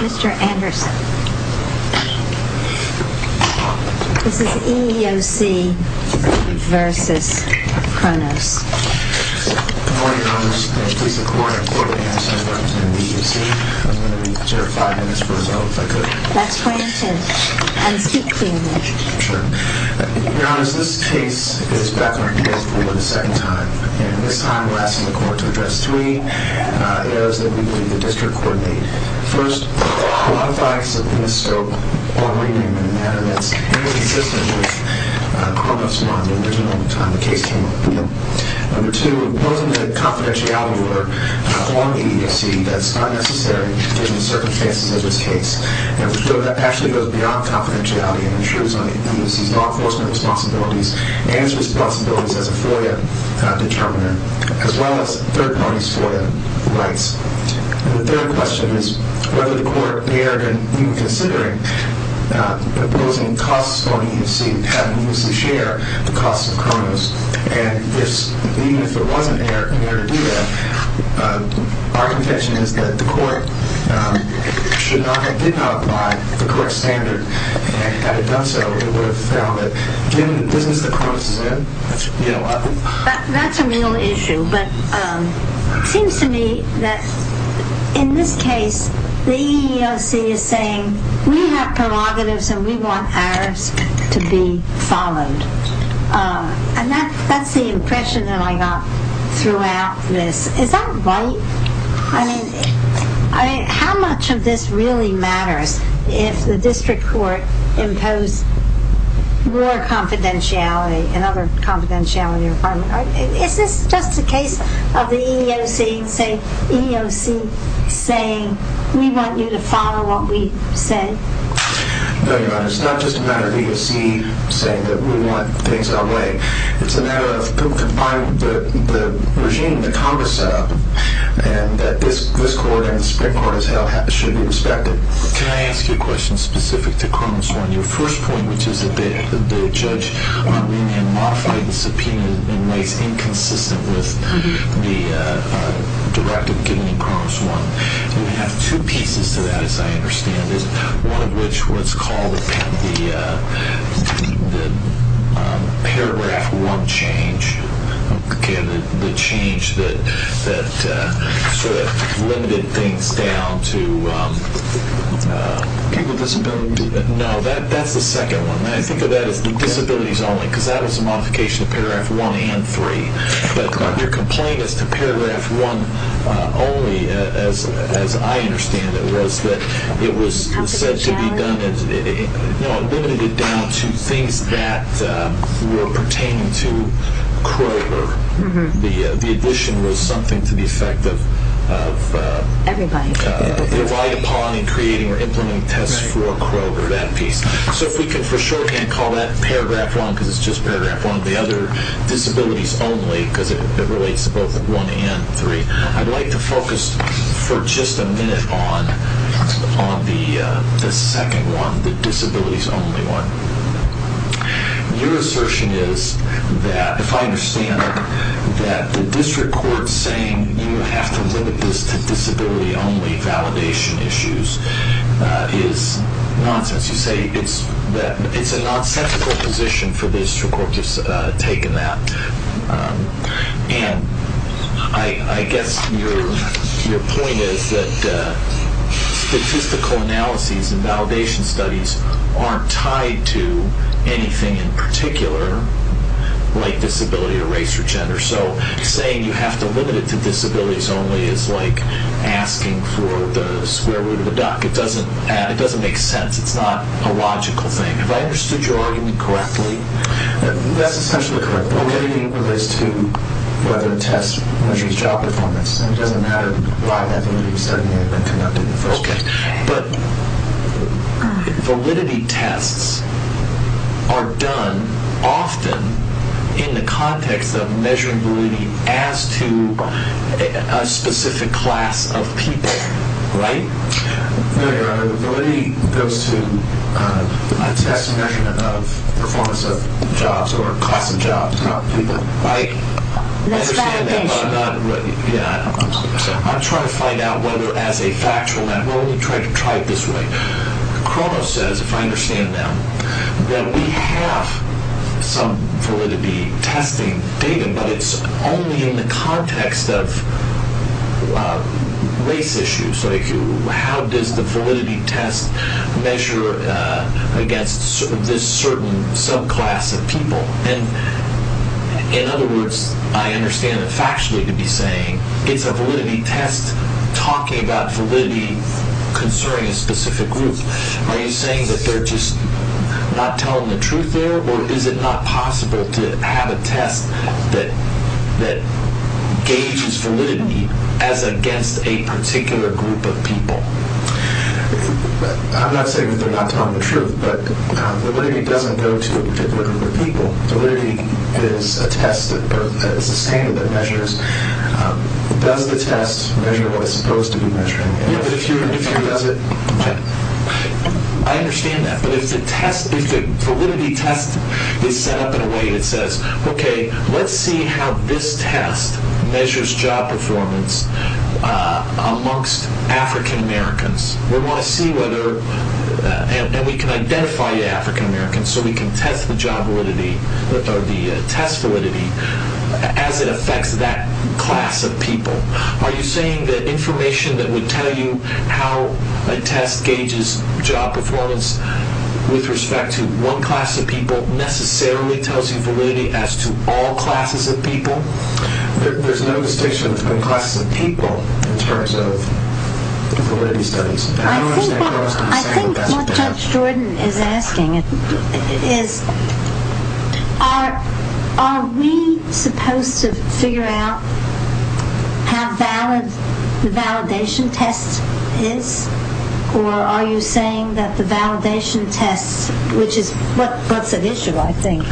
Mr. Anderson. This is EEOCv.Kronos. Good morning, Your Honor. Thank you for your support. I'm Corporal Anderson representing the EEOC. I'm going to be here for five minutes for a vote, if I could. That's granted. And speak clearly. Sure. Your Honor, this case is Bethlehem case. We're doing it a second time. And this time we're asking the court to address three errors that we believe the district court made. First, a lot of facts in this scope aren't reading in a manner that's inconsistent with Kronos 1, the original time the case came up. Number two, imposing a confidentiality order on the EEOC that's unnecessary in the circumstances of this case. And that actually goes beyond confidentiality and intrudes on the EEOC's law enforcement responsibilities and its responsibilities as a FOIA determiner, as well as third parties' FOIA rights. The third question is whether the court dared in even considering imposing costs on the EEOC, having the EEOC share the costs of Kronos. And even if it wasn't dared to do that, our contention is that the court did not apply the correct standard. Had it done so, it would have failed it. Given the business that Kronos is in, you know what? That's a real issue. But it seems to me that in this case, the EEOC is saying, we have prerogatives and we want ours to be followed. And that's the impression that I got throughout this. Is that right? I mean, how much of this really matters if the district court imposed more confidentiality and other confidentiality requirements? Is this just a case of the EEOC saying, we want you to follow what we say? No, Your Honor. It's not just a matter of the EEOC saying that we want things our way. It's a matter of confining the regime, the Congress setup, and that this court and the Supreme Court, as hell, should be respected. Can I ask you a question specific to Kronos 1? Your first point, which is that the judge, Arlene, had modified the subpoena and makes inconsistent with the directive given in Kronos 1. We have two pieces to that, as I understand it. One of which was called the Paragraph 1 change. The change that sort of limited things down to... People with disabilities. No, that's the second one. I think of that as the disabilities only, because that was a modification of Paragraph 1 and 3. Your complaint as to Paragraph 1 only, as I understand it, was that it was limited down to things that were pertaining to Kroger. The addition was something to the effect of... Everybody. Right upon in creating or implementing tests for Kroger, that piece. So if we can, for shorthand, call that Paragraph 1, because it's just Paragraph 1 of the other disabilities only, because it relates to both 1 and 3. I'd like to focus for just a minute on the second one, the disabilities only one. Your assertion is that, if I understand it, that the district court saying you have to limit this to disability only validation issues is nonsense. As you say, it's a nonsensical position for the district court to have taken that. And I guess your point is that statistical analyses and validation studies aren't tied to anything in particular, like disability or race or gender. So saying you have to limit it to disabilities only is like asking for the square root of a duck. It doesn't make sense. It's not a logical thing. Have I understood your argument correctly? That's essentially correct. Validity relates to whether a test measures job performance. It doesn't matter why that validity study may have been conducted. Okay. But validity tests are done often in the context of measuring validity as to a specific class of people, right? Validity goes to a test measurement of performance of jobs or class of jobs, not people. I understand that, but I'm trying to find out whether as a factual matter. We're only trying to try it this way. Crono says, if I understand now, that we have some validity testing data, but it's only in the context of race issues. How does the validity test measure against this certain subclass of people? In other words, I understand it factually to be saying it's a validity test talking about validity concerning a specific group. Are you saying that they're just not telling the truth there, or is it not possible to have a test that gauges validity as against a particular group of people? I'm not saying that they're not telling the truth, but validity doesn't go to a particular group of people. Validity is a standard that measures. Does the test measure what it's supposed to be measuring? If it does it, I understand that. But if the validity test is set up in a way that says, okay, let's see how this test measures job performance amongst African Americans, and we can identify African Americans so we can test the test validity as it affects that class of people. Are you saying that information that would tell you how a test gauges job performance with respect to one class of people necessarily tells you validity as to all classes of people? There's no distinction between classes of people in terms of validity studies. I think what Judge Jordan is asking is, are we supposed to figure out how valid the validation test is? Or are you saying that the validation test, which is what's at issue, I think,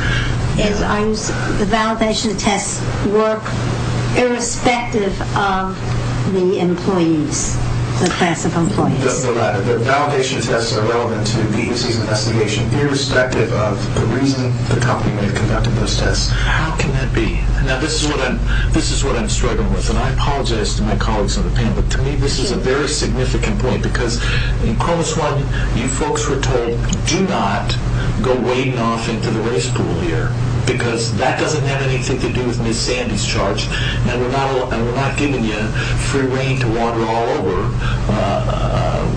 is the validation tests work irrespective of the employees, the class of employees? The validation tests are relevant to the EUC's investigation irrespective of the reason the company may have conducted those tests. How can that be? Now, this is what I'm struggling with. And I apologize to my colleagues on the panel, but to me this is a very significant point. Because in Cronus One, you folks were told, do not go wading off into the race pool here because that doesn't have anything to do with Ms. Sandy's charge. And we're not giving you free rein to wander all over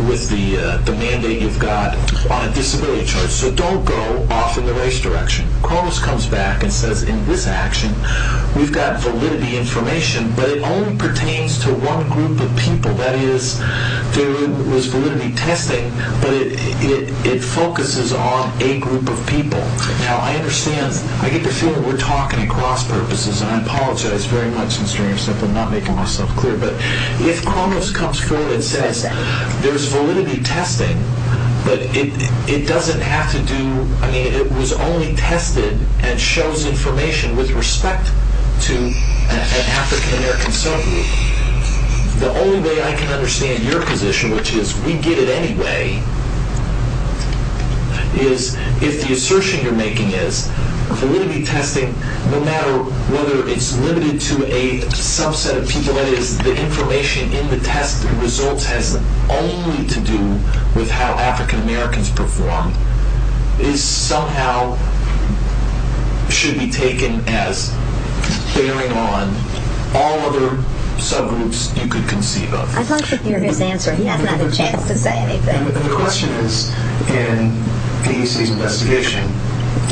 with the mandate you've got on a disability charge. So don't go off in the race direction. Cronus comes back and says, in this action, we've got validity information, but it only pertains to one group of people. That is, there was validity testing, but it focuses on a group of people. Now, I understand, I get the feeling we're talking at cross-purposes. And I apologize very much, Mr. Anderson, for not making myself clear. But if Cronus comes forward and says, there's validity testing, but it doesn't have to do, I mean, it was only tested and shows information with respect to an African-American subgroup, the only way I can understand your position, which is we get it anyway, is if the assertion you're making is validity testing, no matter whether it's limited to a subset of people, that is, the information in the test results has only to do with how African-Americans perform, is somehow should be taken as bearing on all other subgroups you could conceive of. I'd like to hear his answer. He hasn't had a chance to say anything. The question is, in the CDC's investigation,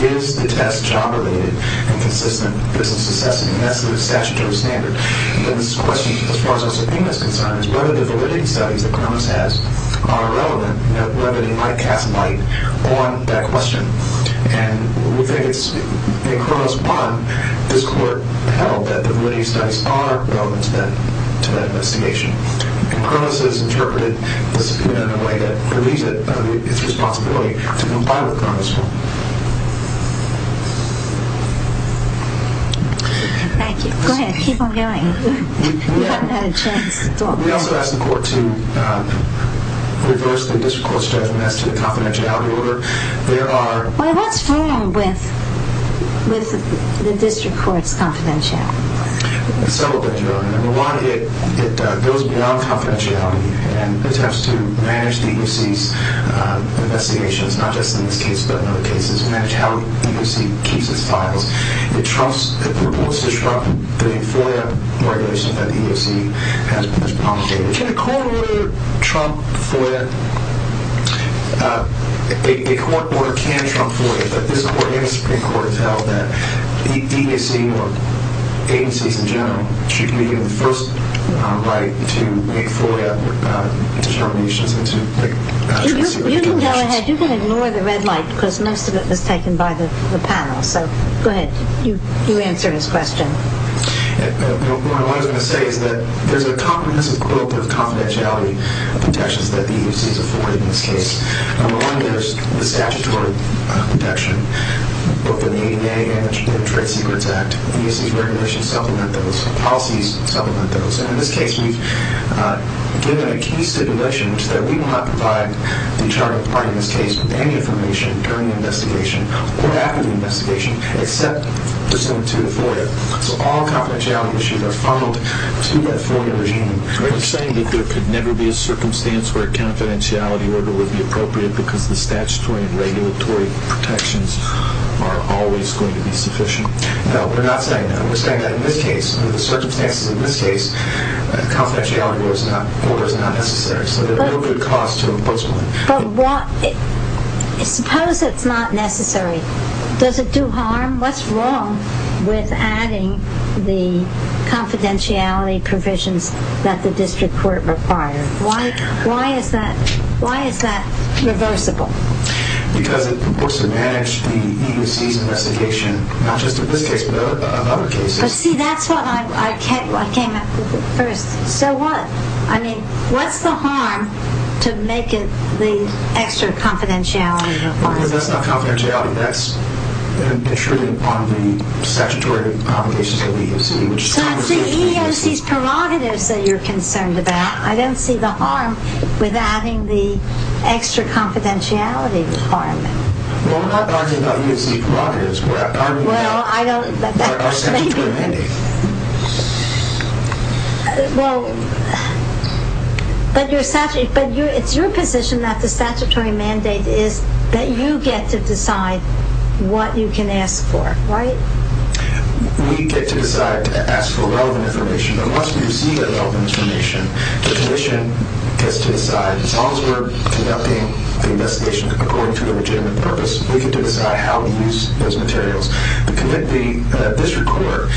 is the test job-related and consistent with business necessity and that's the statutory standard. And then this question, as far as our subpoena is concerned, is whether the validity studies that Cronus has are relevant, whether they might cast light on that question. And we think it's, in Cronus 1, this court held that the validity studies are relevant to that investigation. And Cronus has interpreted the subpoena in a way that relieves it of its responsibility to comply with Cronus 1. Thank you. Go ahead. Keep on going. You haven't had a chance to talk. We also ask the court to reverse the district court's judgment as to the confidentiality order. Well, what's wrong with the district court's confidentiality? Several things are wrong. Number one, it goes beyond confidentiality and attempts to manage the EUC's investigations, not just in this case but in other cases, to manage how the EUC keeps its files. It reports to Trump that a FOIA regulation that the EUC has promulgated. Can a court order trump FOIA? A court order can trump FOIA, but this court and the Supreme Court have held that the EUC, or agencies in general, should be given the first right to make FOIA determinations You can go ahead. You can ignore the red light because most of it was taken by the panel. So go ahead. You answer his question. What I was going to say is that there's a comprehensive quilt of confidentiality protections that the EUC is afforded in this case. Among those, the statutory protection, both in the ADA and the Trade Secrets Act. EUC's regulations supplement those. Policies supplement those. In this case, we've given a key stipulation that we will not provide the internal party in this case with any information during the investigation or after the investigation, except pursuant to the FOIA. So all confidentiality issues are funneled to that FOIA regime. Are you saying that there could never be a circumstance where a confidentiality order would be appropriate because the statutory and regulatory protections are always going to be sufficient? No, we're not saying that. We're saying that in this case, under the circumstances in this case, a confidentiality order is not necessary. So there's no good cause to impose one. But suppose it's not necessary. Does it do harm? What's wrong with adding the confidentiality provisions that the district court required? Why is that reversible? Because it's supposed to manage the EUC's investigation, not just in this case, but in other cases. But see, that's what I came up with first. So what? I mean, what's the harm to make it the extra confidentiality requirement? Because that's not confidentiality. That's an issue on the statutory obligations of the EUC. So it's the EEOC's prerogatives that you're concerned about. I don't see the harm with adding the extra confidentiality requirement. Well, we're not arguing about EUC prerogatives. We're arguing about our statutory mandate. But it's your position that the statutory mandate is that you get to decide what you can ask for, right? We get to decide to ask for relevant information. Unless we receive that relevant information, the commission gets to decide, as long as we're conducting the investigation according to the legitimate purpose, we get to decide how to use those materials. The district court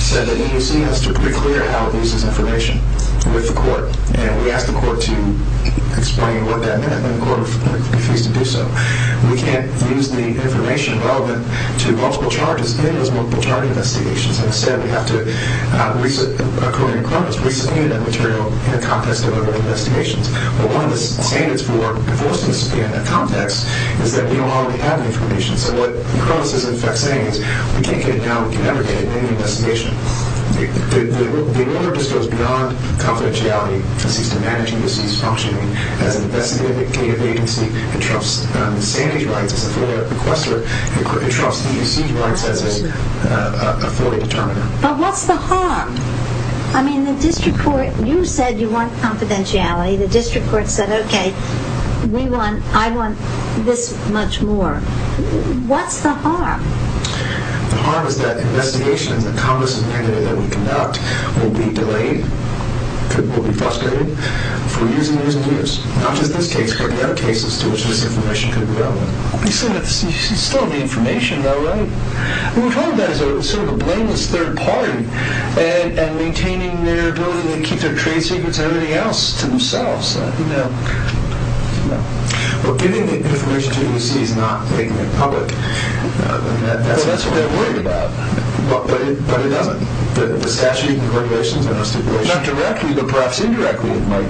said that the EUC has to be clear how it uses information with the court. And we asked the court to explain what that meant, but the court refused to do so. We can't use the information relevant to multiple charges in those multiple-charge investigations. Instead, we have to, according to the court, re-subpoena that material in the context of other investigations. But one of the standards for enforcing the subpoena in that context is that we don't already have the information. So what the Cronus is, in fact, saying is, we can't get it now, we can never get it in any investigation. The order just goes beyond confidentiality. This is to manage EUC's functioning as an investigative agency that trusts the sanity rights as a FOIA requester and trusts EUC rights as a FOIA determiner. But what's the harm? I mean, the district court... You said you want confidentiality. The district court said, okay, we want... I want this much more. What's the harm? The harm is that investigations, the kind of subpoena that we conduct, will be delayed, will be frustrated, for years and years and years. Not just this case, but there are cases to which this information could be relevant. You still have the information, though, right? We're talking about it as sort of a blameless third party and maintaining their ability to keep their trade secrets and everything else to themselves. Well, giving the information to EUC is not making it public. That's what they're worried about. But it doesn't. The statute and the regulations are not stipulated. Not directly, but perhaps indirectly it might.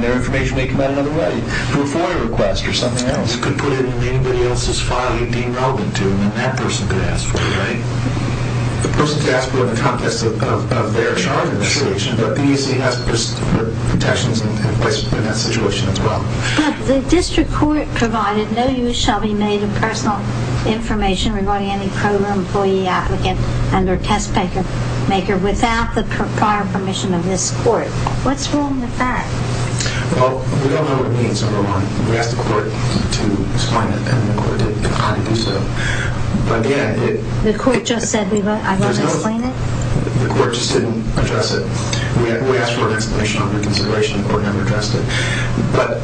Their information may come out another way, through a FOIA request or something else. It could put it in anybody else's filing being relevant to them, and that person could ask for it, right? The person could ask for it in the context of their charge investigation, but the EUC has protections in that situation as well. But the district court provided no use shall be made of personal information regarding any program, employee, applicant, and or test maker without the prior permission of this court. What's wrong with that? Well, we don't know what it means. We asked the court to explain it, and the court did not do so. But again... The court just said, I won't explain it? The court just didn't address it. We asked for an explanation under consideration. The court never addressed it. But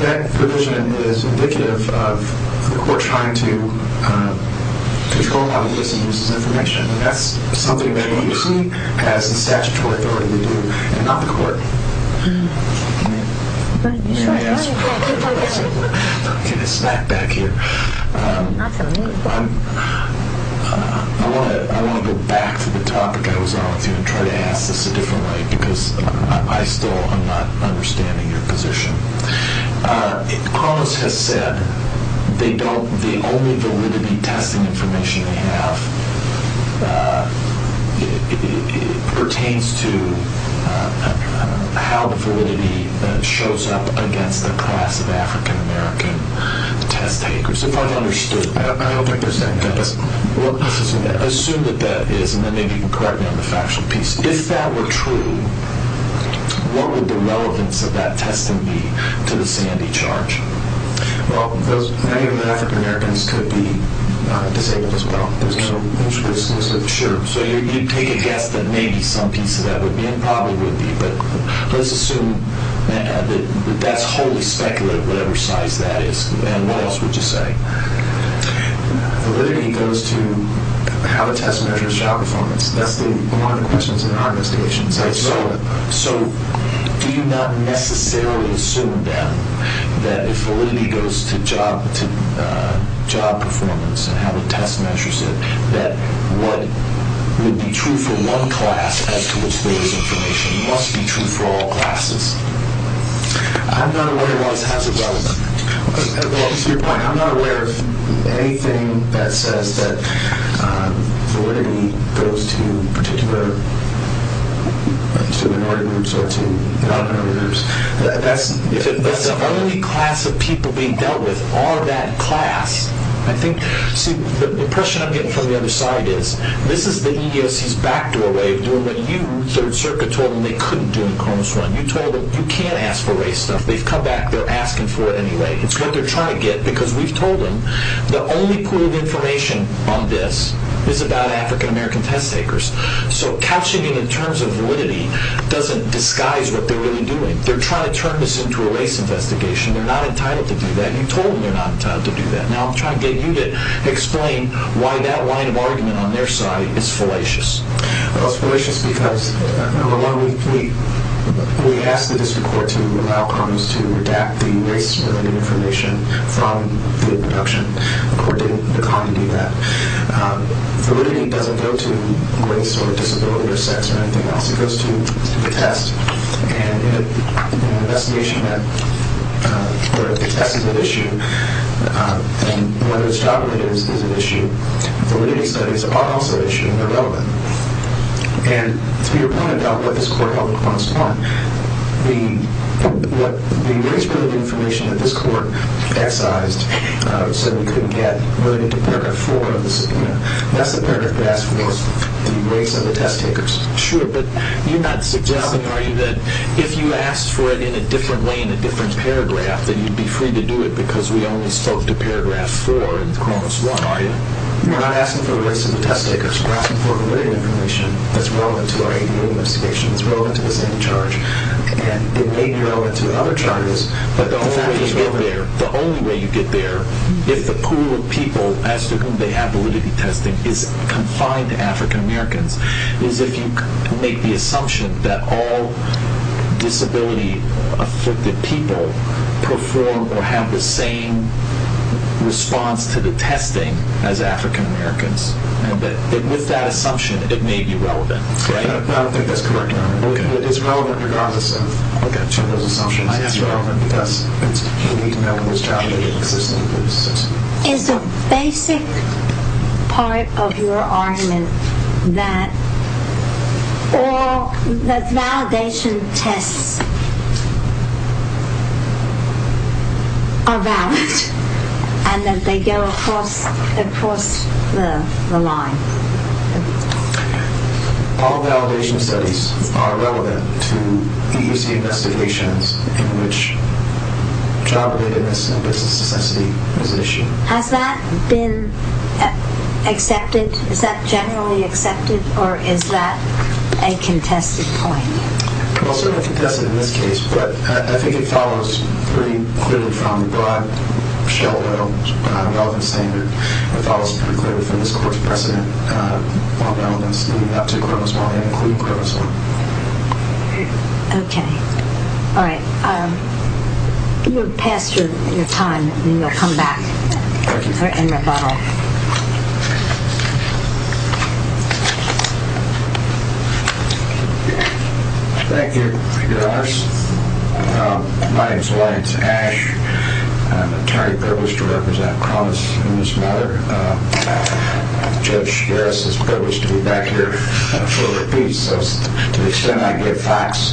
that provision is indicative of the court trying to control how the EUC uses information. And that's something that EUC has the statutory authority to do, and not the court. Hmm. I want to go back to the topic I was on with you and try to ask this a different way, because I still am not understanding your position. Carlos has said the only validity testing information they have pertains to how validity shows up against the class of African-American test takers. If I've understood... I don't think there's that. Assume that that is, and then maybe you can correct me on the factual piece. If that were true, what would the relevance of that testing be to the Sandy charge? Well, those African-Americans could be disabled as well. Sure. So you'd take a guess that maybe some piece of that would be, and probably would be. But let's assume that that's wholly speculative, whatever size that is. And what else would you say? Validity goes to how the test measures job performance. That's one of the questions in our investigations. So do you not necessarily assume, then, that if validity goes to job performance and how the test measures it, that what would be true for one class as to which there is information must be true for all classes? I'm not aware of anything that says that validity goes to minority groups or to non-minority groups. If the only class of people being dealt with are that class, I think... See, the impression I'm getting from the other side is this is the EEOC's backdoor way of doing what you, Third Circuit, told them they couldn't do in the Cronus run. You told them you can't ask for race stuff. They've come back. They're asking for it anyway. It's what they're trying to get because we've told them the only pool of information on this is about African-American test takers. So couching it in terms of validity doesn't disguise what they're really doing. They're trying to turn this into a race investigation. They're not entitled to do that. You told them they're not entitled to do that. Now I'm trying to get you to explain why that line of argument on their side is fallacious. Well, it's fallacious because we asked the district court to allow Cronus to redact the race-related information from the deduction. The court didn't decline to do that. Validity doesn't go to race or disability or sex or anything else. It goes to the test. And in an investigation where the test is at issue and whether it's job-related is at issue, validity studies are also at issue and they're relevant. And to your point about what this court held on Cronus 1, the race-related information that this court excised so we couldn't get related to paragraph 4 of the subpoena, that's the paragraph that asked for the race of the test takers. Sure, but you're not suggesting, are you, that if you asked for it in a different way in a different paragraph, that you'd be free to do it because we only spoke to paragraph 4 in Cronus 1, are you? We're not asking for the race of the test takers. We're asking for validity information that's relevant to our APU investigation, that's relevant to the same charge. And it may be relevant to other charges, but the only way you get there, if the pool of people as to whom they have validity testing is confined to African Americans, is if you make the assumption that all disability-afflicted people perform or have the same response to the testing as African Americans. And with that assumption, it may be relevant, right? I don't think that's correct, Your Honor. It's relevant regardless of those assumptions. It's relevant because you need to know who's trying to make it because there's no good assessment. It's a basic part of your argument that validation tests are valid and that they go across the line. All validation studies are relevant to EUC investigations in which job-relatedness and business necessity is an issue. Has that been accepted? Is that generally accepted, or is that a contested point? It's also a contested point in this case, but I think it follows pretty clearly from the broad Sheldon-Goldman standard. It follows pretty clearly from this Court's precedent on relevance leading up to criminal spying, including criminal spying. Okay. All right. You're past your time, and you'll come back for any rebuttal. Thank you, Your Honors. My name's Lance Ash. I'm entirely privileged to represent Cronus in this matter. Judge Beres is privileged to be back here for a repeat, so to the extent I give facts,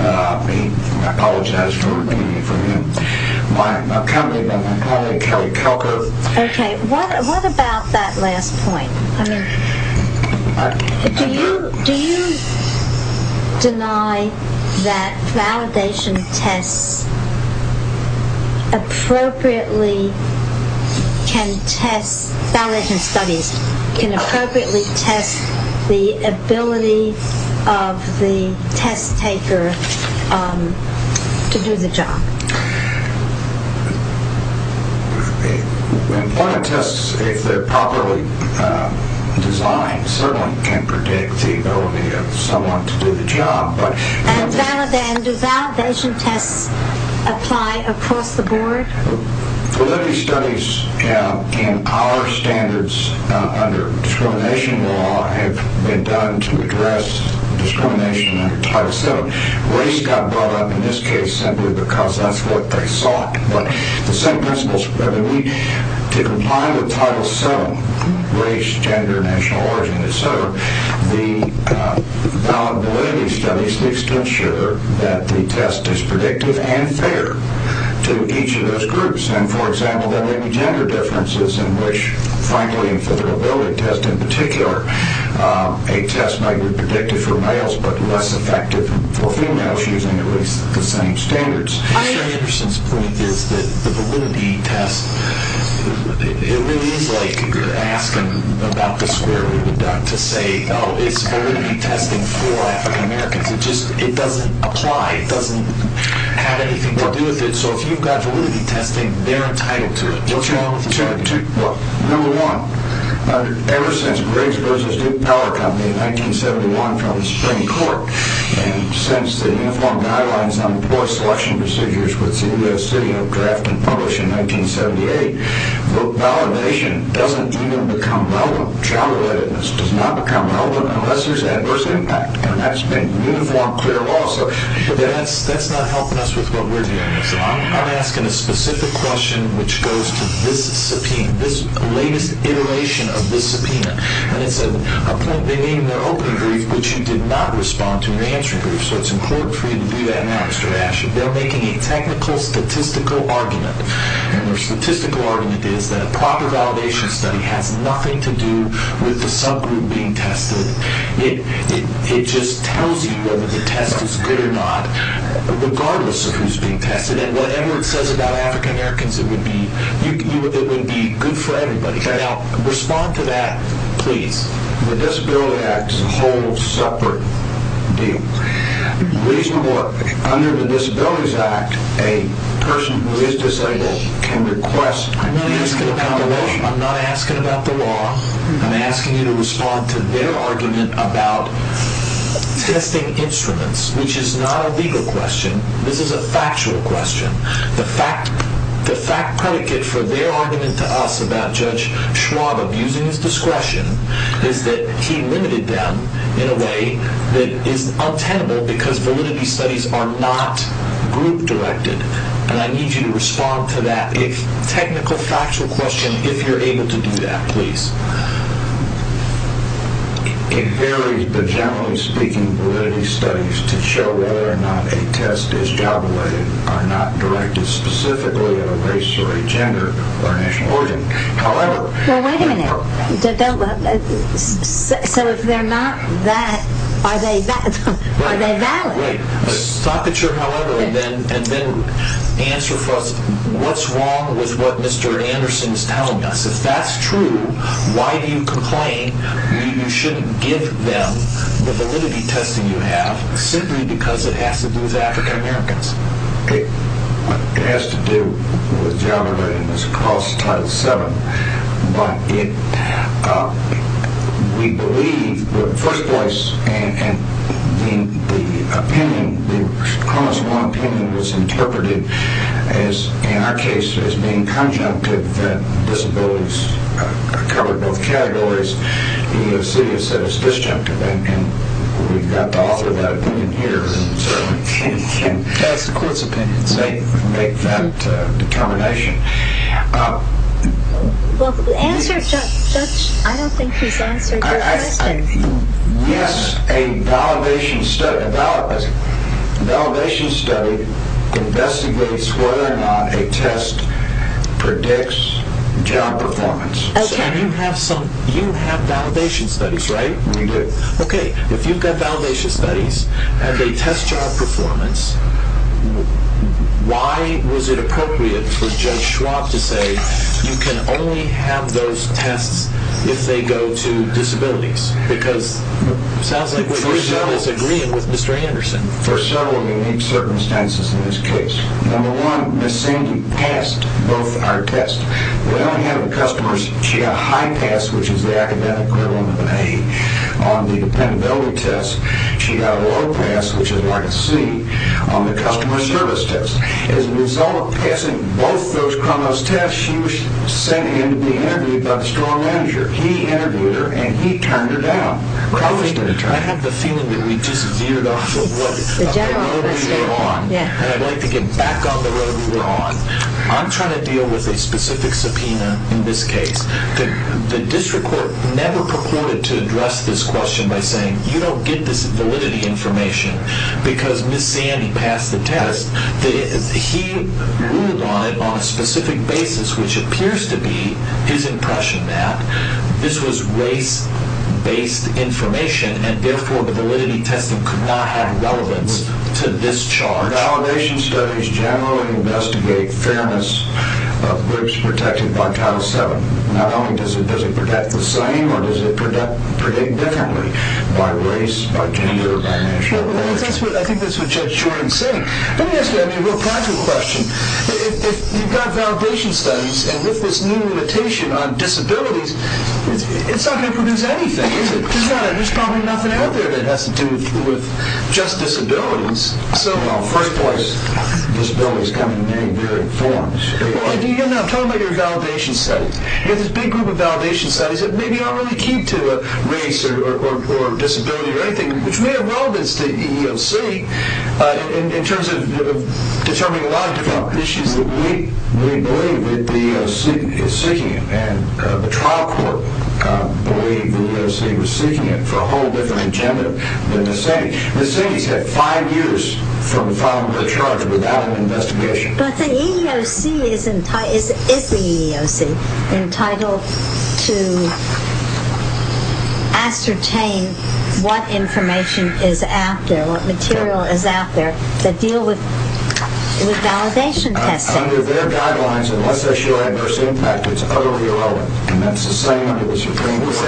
I apologize for repeating it for him. My colleague, Kelly Kelko... Okay, what about that last point? Do you deny that validation tests appropriately can test validation studies, can appropriately test the ability of the test taker to do the job? Employment tests, if they're properly designed, certainly can predict the ability of someone to do the job. And do validation tests apply across the board? Validity studies in our standards under discrimination law have been done to address discrimination under Title VII. Race got brought up in this case simply because that's what they sought, but the same principles have been used to comply with Title VII, race, gender, national origin, et cetera. The validity studies need to ensure that the test is predictive and fair to each of those groups. And, for example, there may be gender differences in which, finally, for the ability test in particular, a test might be predictive for males but less effective for females using at least the same standards. Senator Anderson's point is that the validity test, it really is like asking about the square root of duck to say, oh, it's validity testing for African Americans. It just doesn't apply. It doesn't have anything to do with it. So if you've got validity testing, they're entitled to it. What's wrong with that? Number one, ever since Briggs v. Duke Power Company in 1971 from the Supreme Court, and since the Uniform Guidelines on Poor Selection Procedures was drafted and published in 1978, validation doesn't even become relevant. Child relatedness does not become relevant unless there's adverse impact, and that's been uniformed clear law. But that's not helping us with what we're doing. I'm asking a specific question which goes to this subpoena, this latest iteration of this subpoena, and it's a point they made in their opening brief, but you did not respond to in your answer brief, so it's important for you to do that now, Mr. Ash. They're making a technical statistical argument, and their statistical argument is that a proper validation study has nothing to do with the subgroup being tested. It just tells you whether the test is good or not, regardless of who's being tested, and whatever it says about African Americans, it would be good for everybody. Now, respond to that, please. The Disability Act is a whole separate deal. Under the Disabilities Act, a person who is disabled can request... I'm not asking about the law. I'm asking you to respond to their argument about testing instruments, which is not a legal question. This is a factual question. The fact predicate for their argument to us about Judge Schwab abusing his discretion is that he limited them in a way that is untenable because validity studies are not group-directed, and I need you to respond to that technical, factual question if you're able to do that, please. It varies, but generally speaking, validity studies to show whether or not a test is job-related are not directed specifically at a race or a gender or national origin. However... Well, wait a minute. So if they're not that, are they valid? Wait. Stop the chart, however, and then answer for us what's wrong with what Mr. Anderson is telling us. If that's true, why do you complain that you shouldn't give them the validity testing you have simply because it has to do with African-Americans? It has to do with job-relatedness across Title VII, but we believe, in the first place, and the opinion, the Columbus Law opinion, was interpreted in our case as being conjunctive that disabilities covered both categories. The EEOC has said it's disjunctive, and we've got the author of that opinion here, and so we can make that determination. Well, the answer, Judge, I don't think he's answered your question. Yes, a validation study investigates whether or not a test predicts job performance. And you have validation studies, right? We do. Okay, if you've got validation studies and they test job performance, why was it appropriate for Judge Schwab to say you can only have those tests if they go to disabilities? Because it sounds like what you're saying is agreeing with Mr. Anderson. There are several unique circumstances in this case. Number one, Ms. Sandy passed both our tests. We only have the customers. She got a high pass, which is the academic equivalent of an A, on the dependability test. She got a low pass, which is like a C, on the customer service test. As a result of passing both those CRONOS tests, she was sent in to be interviewed by the store manager. He interviewed her, and he turned her down. I have the feeling that we just veered off the road we were on, and I'd like to get back on the road we were on. I'm trying to deal with a specific subpoena in this case. The district court never purported to address this question by saying you don't get this validity information because Ms. Sandy passed the test. He ruled on it on a specific basis, which appears to be his impression that this was race-based information, and therefore the validity testing could not have relevance to this charge. Validation studies generally investigate fairness of groups protected by Title VII. Not only does it predict the same, but does it predict differently by race, by gender, by nationality? I think that's what Judge Jordan is saying. Let me ask you a real practical question. If you've got validation studies, and with this new limitation on disabilities, it's not going to produce anything, is it? There's probably nothing out there that has to do with just disabilities. Well, first place. Disabilities come in many different forms. I'm talking about your validation studies. You have this big group of validation studies that maybe aren't really key to race or disability or anything, which may have relevance to EEOC in terms of determining a lot of different issues We believe that the EEOC is seeking it, and the trial court believed the EEOC was seeking it for a whole different agenda than the city. The city's had five years from filing the charge without an investigation. But the EEOC is the EEOC entitled to ascertain what information is out there, what material is out there, that deal with validation testing. Under their guidelines, unless they show adverse impact, it's utterly irrelevant, and that's the same under the Supreme Court. Is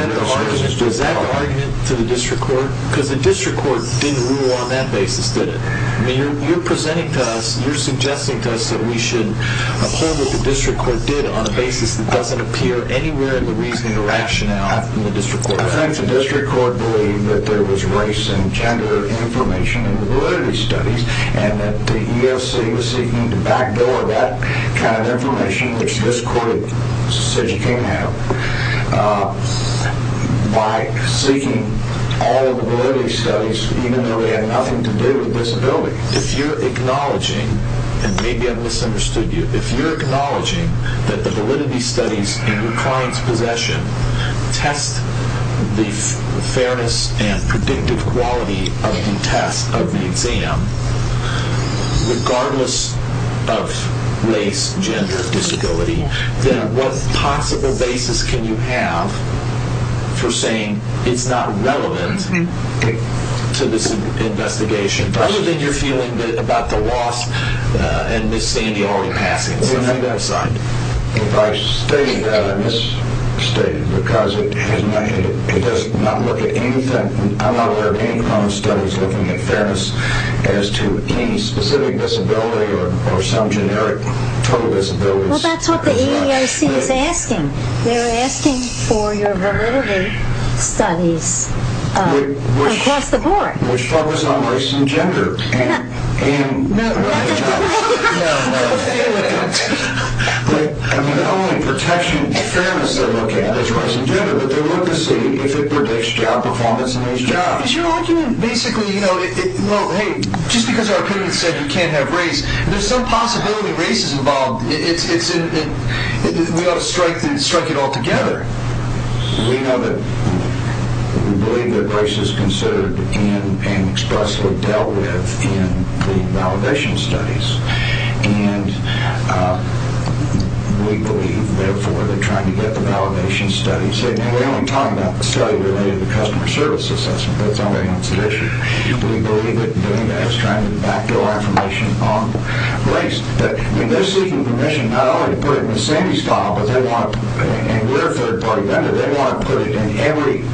that the argument to the district court? Because the district court didn't rule on that basis, did it? I mean, you're presenting to us, you're suggesting to us that we should uphold what the district court did on a basis that doesn't appear anywhere in the reasoning or action that often the district court does. I think the district court believed that there was race and gender information in the validity studies, and that the EEOC was seeking to backdoor that kind of information, which this court said you can't have, by seeking all of the validity studies, even though they had nothing to do with disability. If you're acknowledging, and maybe I've misunderstood you, if you're acknowledging that the validity studies in your client's possession test the fairness and predictive quality of the test, of the exam, regardless of race, gender, disability, then what possible basis can you have for saying it's not relevant to this investigation, other than your feeling about the loss and Miss Sandy already passing? If I stated that, I misstated, because it does not look at anything, I'm not aware of any kind of studies looking at fairness as to any specific disability or some generic total disability. Well, that's what the EEOC is asking. They're asking for your validity studies across the board. Which focus on race and gender. No, no. No, no. I mean, the only protection of fairness they look at is race and gender, but they're looking to see if it predicts job performance in these jobs. But your argument basically, you know, well, hey, just because our opinion said you can't have race, there's some possibility race is involved. We ought to strike it all together. We know that, we believe that race is considered and expressly dealt with in the validation studies. And we believe, therefore, they're trying to get the validation studies. And we're only talking about the study related to customer service assessment, because that's the only answer to the issue. We believe that doing that is trying to back your affirmation on race. I mean, they're seeking permission not only to put it in Miss Sandy's file, and we're a third-party vendor, they want to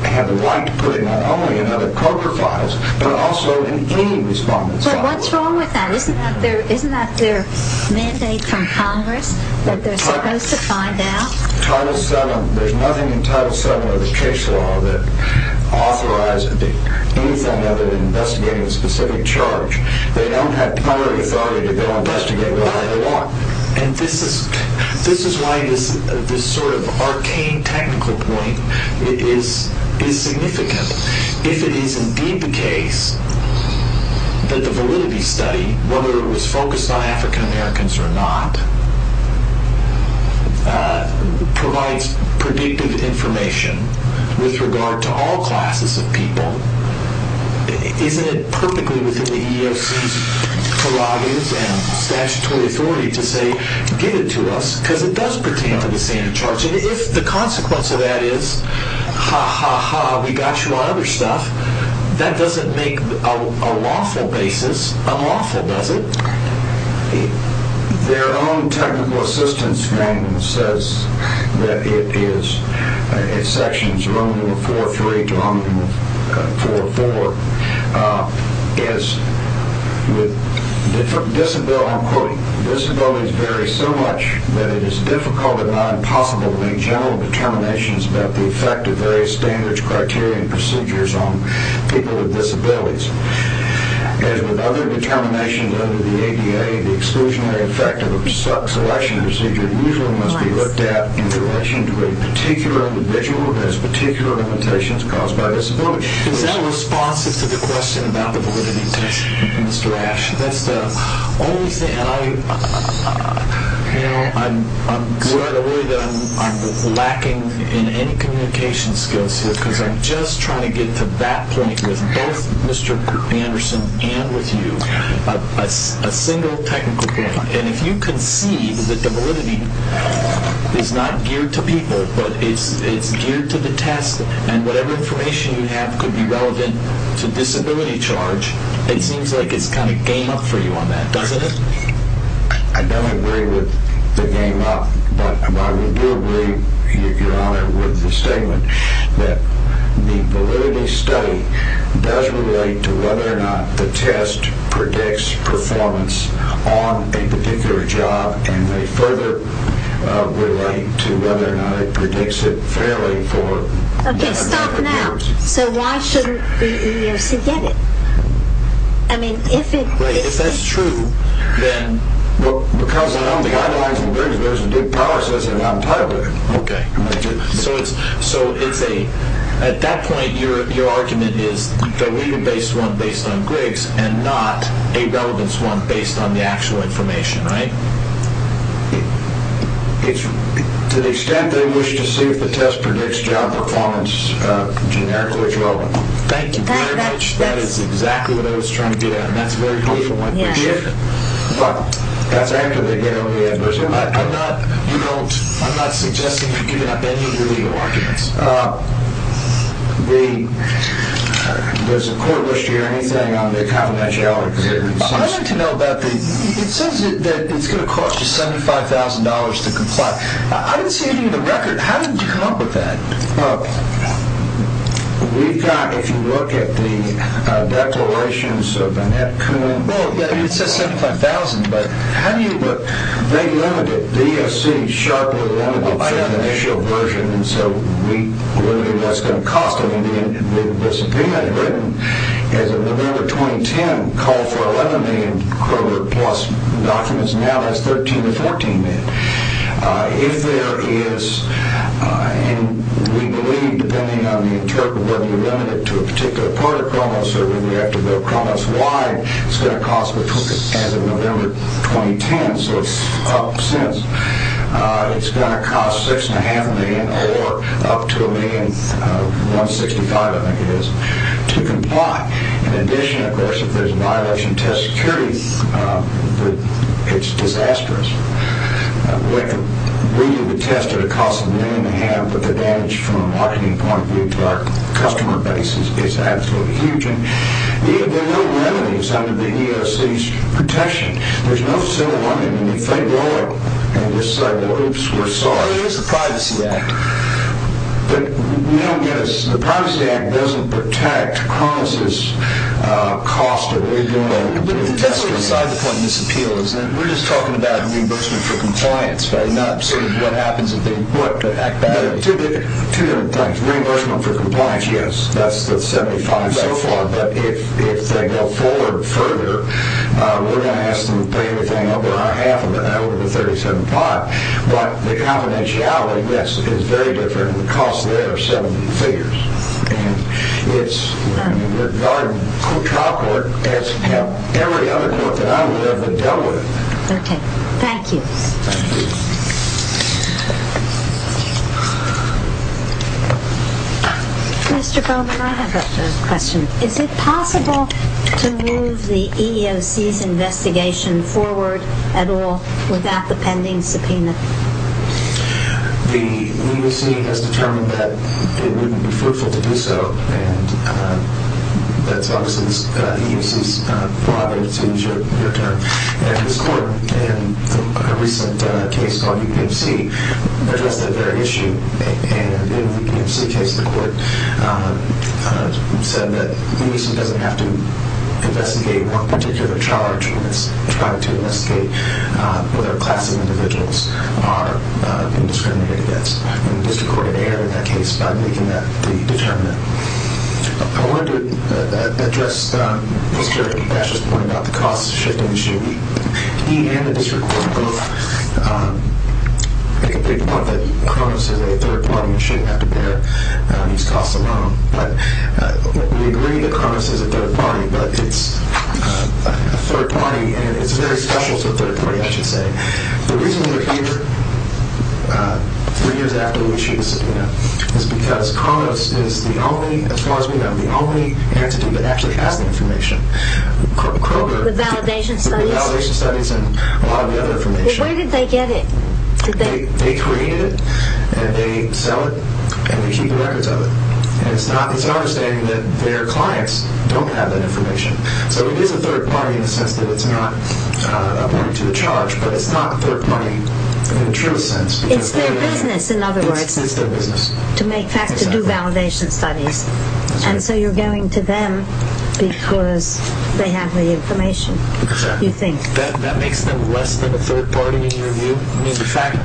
have the right to put it not only in other corporate files, but also in any respondent's file. But what's wrong with that? Isn't that their mandate from Congress, that they're supposed to find out? Title VII, there's nothing in Title VII of the Chase Law that authorizes anything other than investigating a specific charge. They don't have prior authority to go investigate whatever they want. And this is why this sort of arcane technical point is significant. If it is indeed the case that the validity study, whether it was focused on African Americans or not, provides predictive information with regard to all classes of people, isn't it perfectly within the EEOC's prerogatives and statutory authority to say, get it to us, because it does pertain to the Sandy charge. And if the consequence of that is, ha, ha, ha, we got you on other stuff, that doesn't make a lawful basis unlawful, does it? Their own technical assistance frame says that it is, in Sections 104.3 to 104.4, that, quote, disabilities vary so much that it is difficult and not impossible to make general determinations about the effect of various standards, criteria, and procedures on people with disabilities. As with other determinations under the ADA, the exclusionary effect of a selection procedure usually must be looked at in relation to a particular individual and its particular limitations caused by disability. Is that responsive to the question about the validity test, Mr. Ash? That's the only thing, and I'm glad or worried that I'm lacking in any communication skills here, because I'm just trying to get to that point with both Mr. Anderson and with you, a single technical point. And if you can see that the validity is not geared to people, but it's geared to the test, and whatever information you have could be relevant to disability charge, it seems like it's kind of game up for you on that, doesn't it? I don't agree with the game up, but I do agree, Your Honor, with the statement that the validity study does relate to whether or not the test predicts performance on a particular job, and they further relate to whether or not it predicts it fairly for... Okay, stop now. So why shouldn't the EEOC get it? I mean, if it... Right, if that's true, then... Well, because I know the guidelines in the Griggs version do power assessment on title. Okay. So it's a... At that point, your argument is the legal-based one based on Griggs and not a relevance one based on the actual information, right? To the extent they wish to see if the test predicts job performance generically is relevant. Thank you very much. That is exactly what I was trying to get at, and that's very helpful in my position. But that's actively the EEOC. I'm not suggesting you're giving up any of your legal arguments. The... Does the court wish to hear anything on the confidentiality? I'd like to know about the... It says that it's going to cost you $75,000 to comply. I didn't see anything in the record. How did you come up with that? We've got, if you look at the declarations of Annette Coon... Well, it says $75,000, but how do you... They limited... The EEOC sharply limited the financial version, and so we limited what that's going to cost. I mean, the subpoena written as of November 2010 called for 11 million Kroger-plus documents. Now that's 13 or 14 million. If there is... And we believe, depending on the interpretive, whether you limit it to a particular part of Kronos or whether you have to go Kronos-wide, it's going to cost as of November 2010, so it's up since. It's going to cost $6.5 million or up to $1.65 million, I think it is, to comply. In addition, of course, if there's a violation of test security, it's disastrous. We need to test at a cost of $1.5 million, but the damage from a marketing point of view to our customer base is absolutely huge. And there are no remedies under the EEOC's protection. There's no civil one. I mean, if they go in and just say, well, oops, we're sorry... Well, there is the Privacy Act. But we don't get a... The Privacy Act doesn't protect Kronos' cost of EEO. But that's sort of beside the point of this appeal, is that we're just talking about reimbursement for compliance, right? Not sort of what happens if they act badly. 200 times, reimbursement for compliance, yes. That's the 75 so far. But if they go forward further, we're going to ask them to pay everything over our half, over the $37,500. But the confidentiality, yes, is very different. The cost there is 70 figures. And it's regarding trial court as every other court that I've ever dealt with. Okay. Thank you. Thank you. Mr. Bowman, I have a question. Is it possible to move the EEOC's investigation forward at all without the pending subpoena? The EEOC has determined that it wouldn't be fruitful to do so. And that's obviously the EEOC's prerogative to use your term. And this court, in a recent case called UPFC, addressed that very issue. And in the UPFC case, the court said that the EEOC doesn't have to investigate one particular charge when it's trying to investigate whether class of individuals are being discriminated against. And the district court had erred in that case by making that determination. I wanted to address Mr. Dasch's point about the cost shifting issue. He and the district court both make a big point that Kronos is a third party and shouldn't have to bear these costs alone. But we agree that Kronos is a third party, but it's a third party and it's very special to a third party, I should say. The reason we're here, three years after we issued the subpoena, is because Kronos is the only, as far as we know, the only entity that actually has the information. The validation studies? The validation studies and a lot of the other information. Well, where did they get it? They created it and they sell it and they keep the records of it. And it's not our understanding that their clients don't have that information. So it is a third party in the sense that it's not a point to the charge, but it's not a third party in the truest sense. It's their business, in other words. It's their business. To make facts, to do validation studies. And so you're going to them because they have the information, you think? That makes them less than a third party in your view. In fact,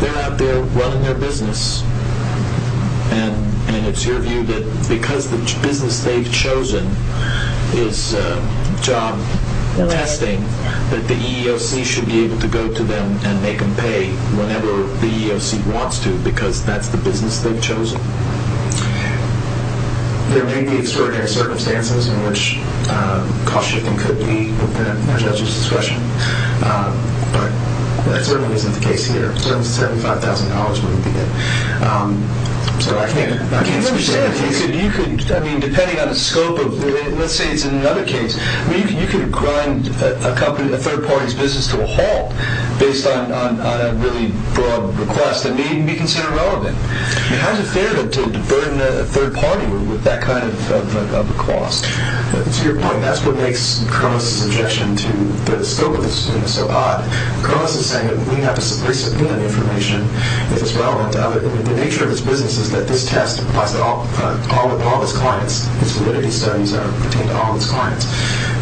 they're out there running their business. And it's your view that because the business they've chosen is job testing, that the EEOC should be able to go to them and make them pay whenever the EEOC wants to because that's the business they've chosen. There may be extraordinary circumstances in which cost shifting could be within a judge's discretion, but that certainly isn't the case here. Certainly $75,000 wouldn't be good. So I can't speak to that. I mean, depending on the scope of it, let's say it's another case. You could grind a third party's business to a halt based on a really broad request that may even be considered relevant. I mean, how is it fair to burn a third party with that kind of a cost? To your point, that's what makes Cronus' objection to the scope of this so odd. Cronus is saying that we have to re-subpoena the information if it's relevant to others. The nature of this business is that this test applies to all of its clients. Its validity studies pertain to all its clients.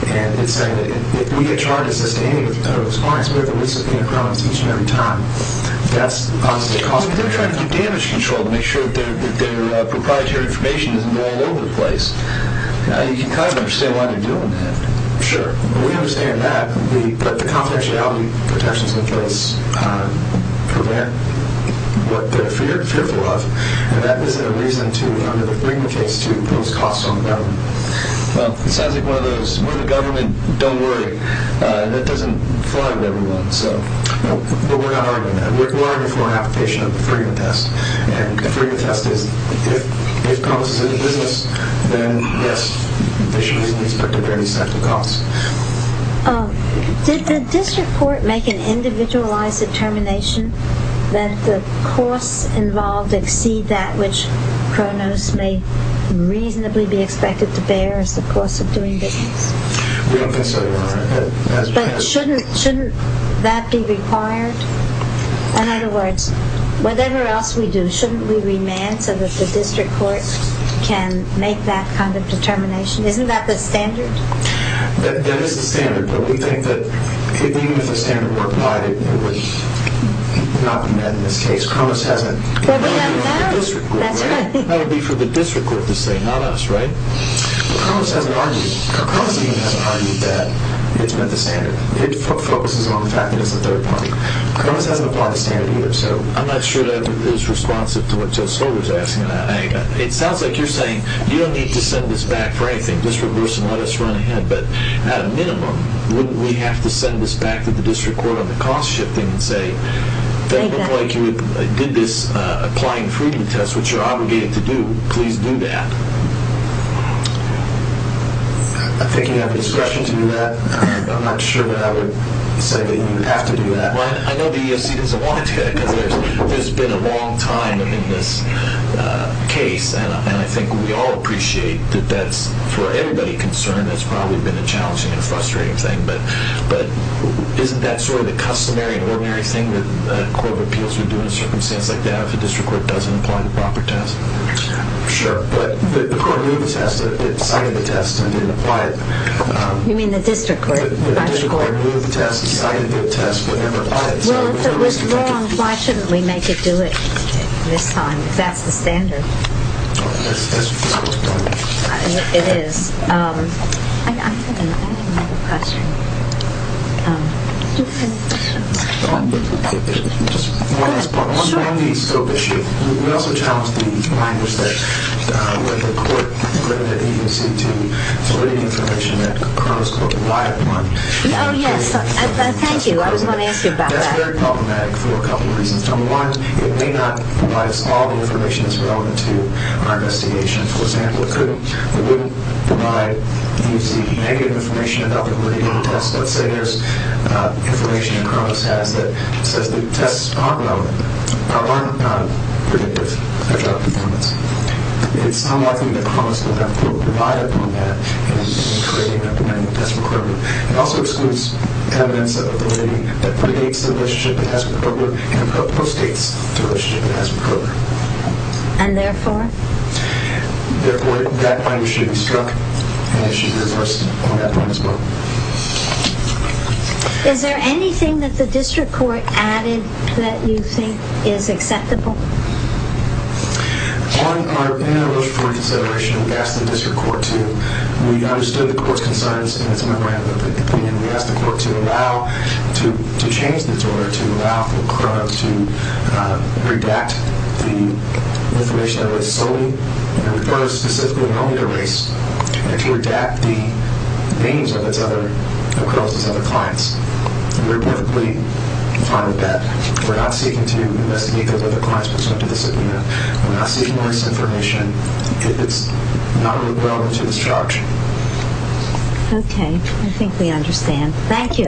And it's saying that if we get charged with sustaining those clients, we're going to re-subpoena Cronus each and every time. They're trying to do damage control to make sure that their proprietary information isn't all over the place. You can kind of understand why they're doing that. Sure. We understand that. But the confidentiality protections in place prevent what they're fearful of, and that isn't a reason to bring the case to impose costs on the government. Well, it sounds like one of those, we're the government, don't worry. That doesn't fly with everyone. But we're not arguing that. We're arguing for an application of the Freedom Test. And the Freedom Test is if Cronus is in the business, then yes, they should be subject to any set of costs. Did the district court make an individualized determination that the costs involved exceed that which Cronus may reasonably be expected to bear as the cost of doing business? We don't consider that. But shouldn't that be required? In other words, whatever else we do, shouldn't we remand so that the district court can make that kind of determination? Isn't that the standard? That is the standard, but we think that even if the standard were applied, it would not be met in this case. Cronus hasn't. That would be for the district court to say, not us, right? Cronus hasn't argued that it's met the standard. It focuses on the fact that it's the third party. Cronus hasn't applied the standard either. I'm not sure that is responsive to what Joe Soder is asking. It sounds like you're saying you don't need to send this back for anything. Just reverse and let us run ahead. But at a minimum, wouldn't we have to send this back to the district court on the cost shifting and say, that looked like you did this applying the Freedom Test, which you're obligated to do, please do that. I think you have the discretion to do that. I'm not sure that I would say that you have to do that. I know the EEOC doesn't want to do that because there's been a long time in this case, and I think we all appreciate that that's, for everybody concerned, that's probably been a challenging and frustrating thing. But isn't that sort of the customary and ordinary thing that the Court of Appeals would do in a circumstance like that if the district court doesn't apply the proper test? Sure, but the court knew the test, decided the test, and didn't apply it. You mean the district court? The district court knew the test, decided to do the test, but didn't apply it. Well, if it was wrong, why shouldn't we make it do it this time? That's the standard. It is. I didn't have a question. Do you have a question? Just one last point. Sure. On the scope issue, we also challenged the language that the court limited the EEOC to relating information that the current court relied upon. Oh, yes. Thank you. I was going to ask you about that. That's very problematic for a couple of reasons. Number one, it may not provide us all the information that's relevant to our investigation. For example, it wouldn't provide EEOC negative information about the validity of the test. Let's say there's information that Cronus has that says the tests aren't relevant, aren't predictive of drug performance. It's unlikely that Cronus would have the court rely upon that in creating a demanding test requirement. It also excludes evidence of validity that predates the relationship it has with Kroger and postdates the relationship it has with Kroger. And therefore? Therefore, that point should be struck, and it should be reversed on that point as well. Is there anything that the district court added that you think is acceptable? In our initial consideration, we asked the district court to... We understood the court's concerns, and we asked the court to allow... The court is specifically willing to race and to adapt the names of its other... of Kronus' other clients. We're perfectly fine with that. We're not seeking to investigate those other clients' prospective discipline. We're not seeking to erase information. It's not really relevant to this charge. Okay. I think we understand. Thank you.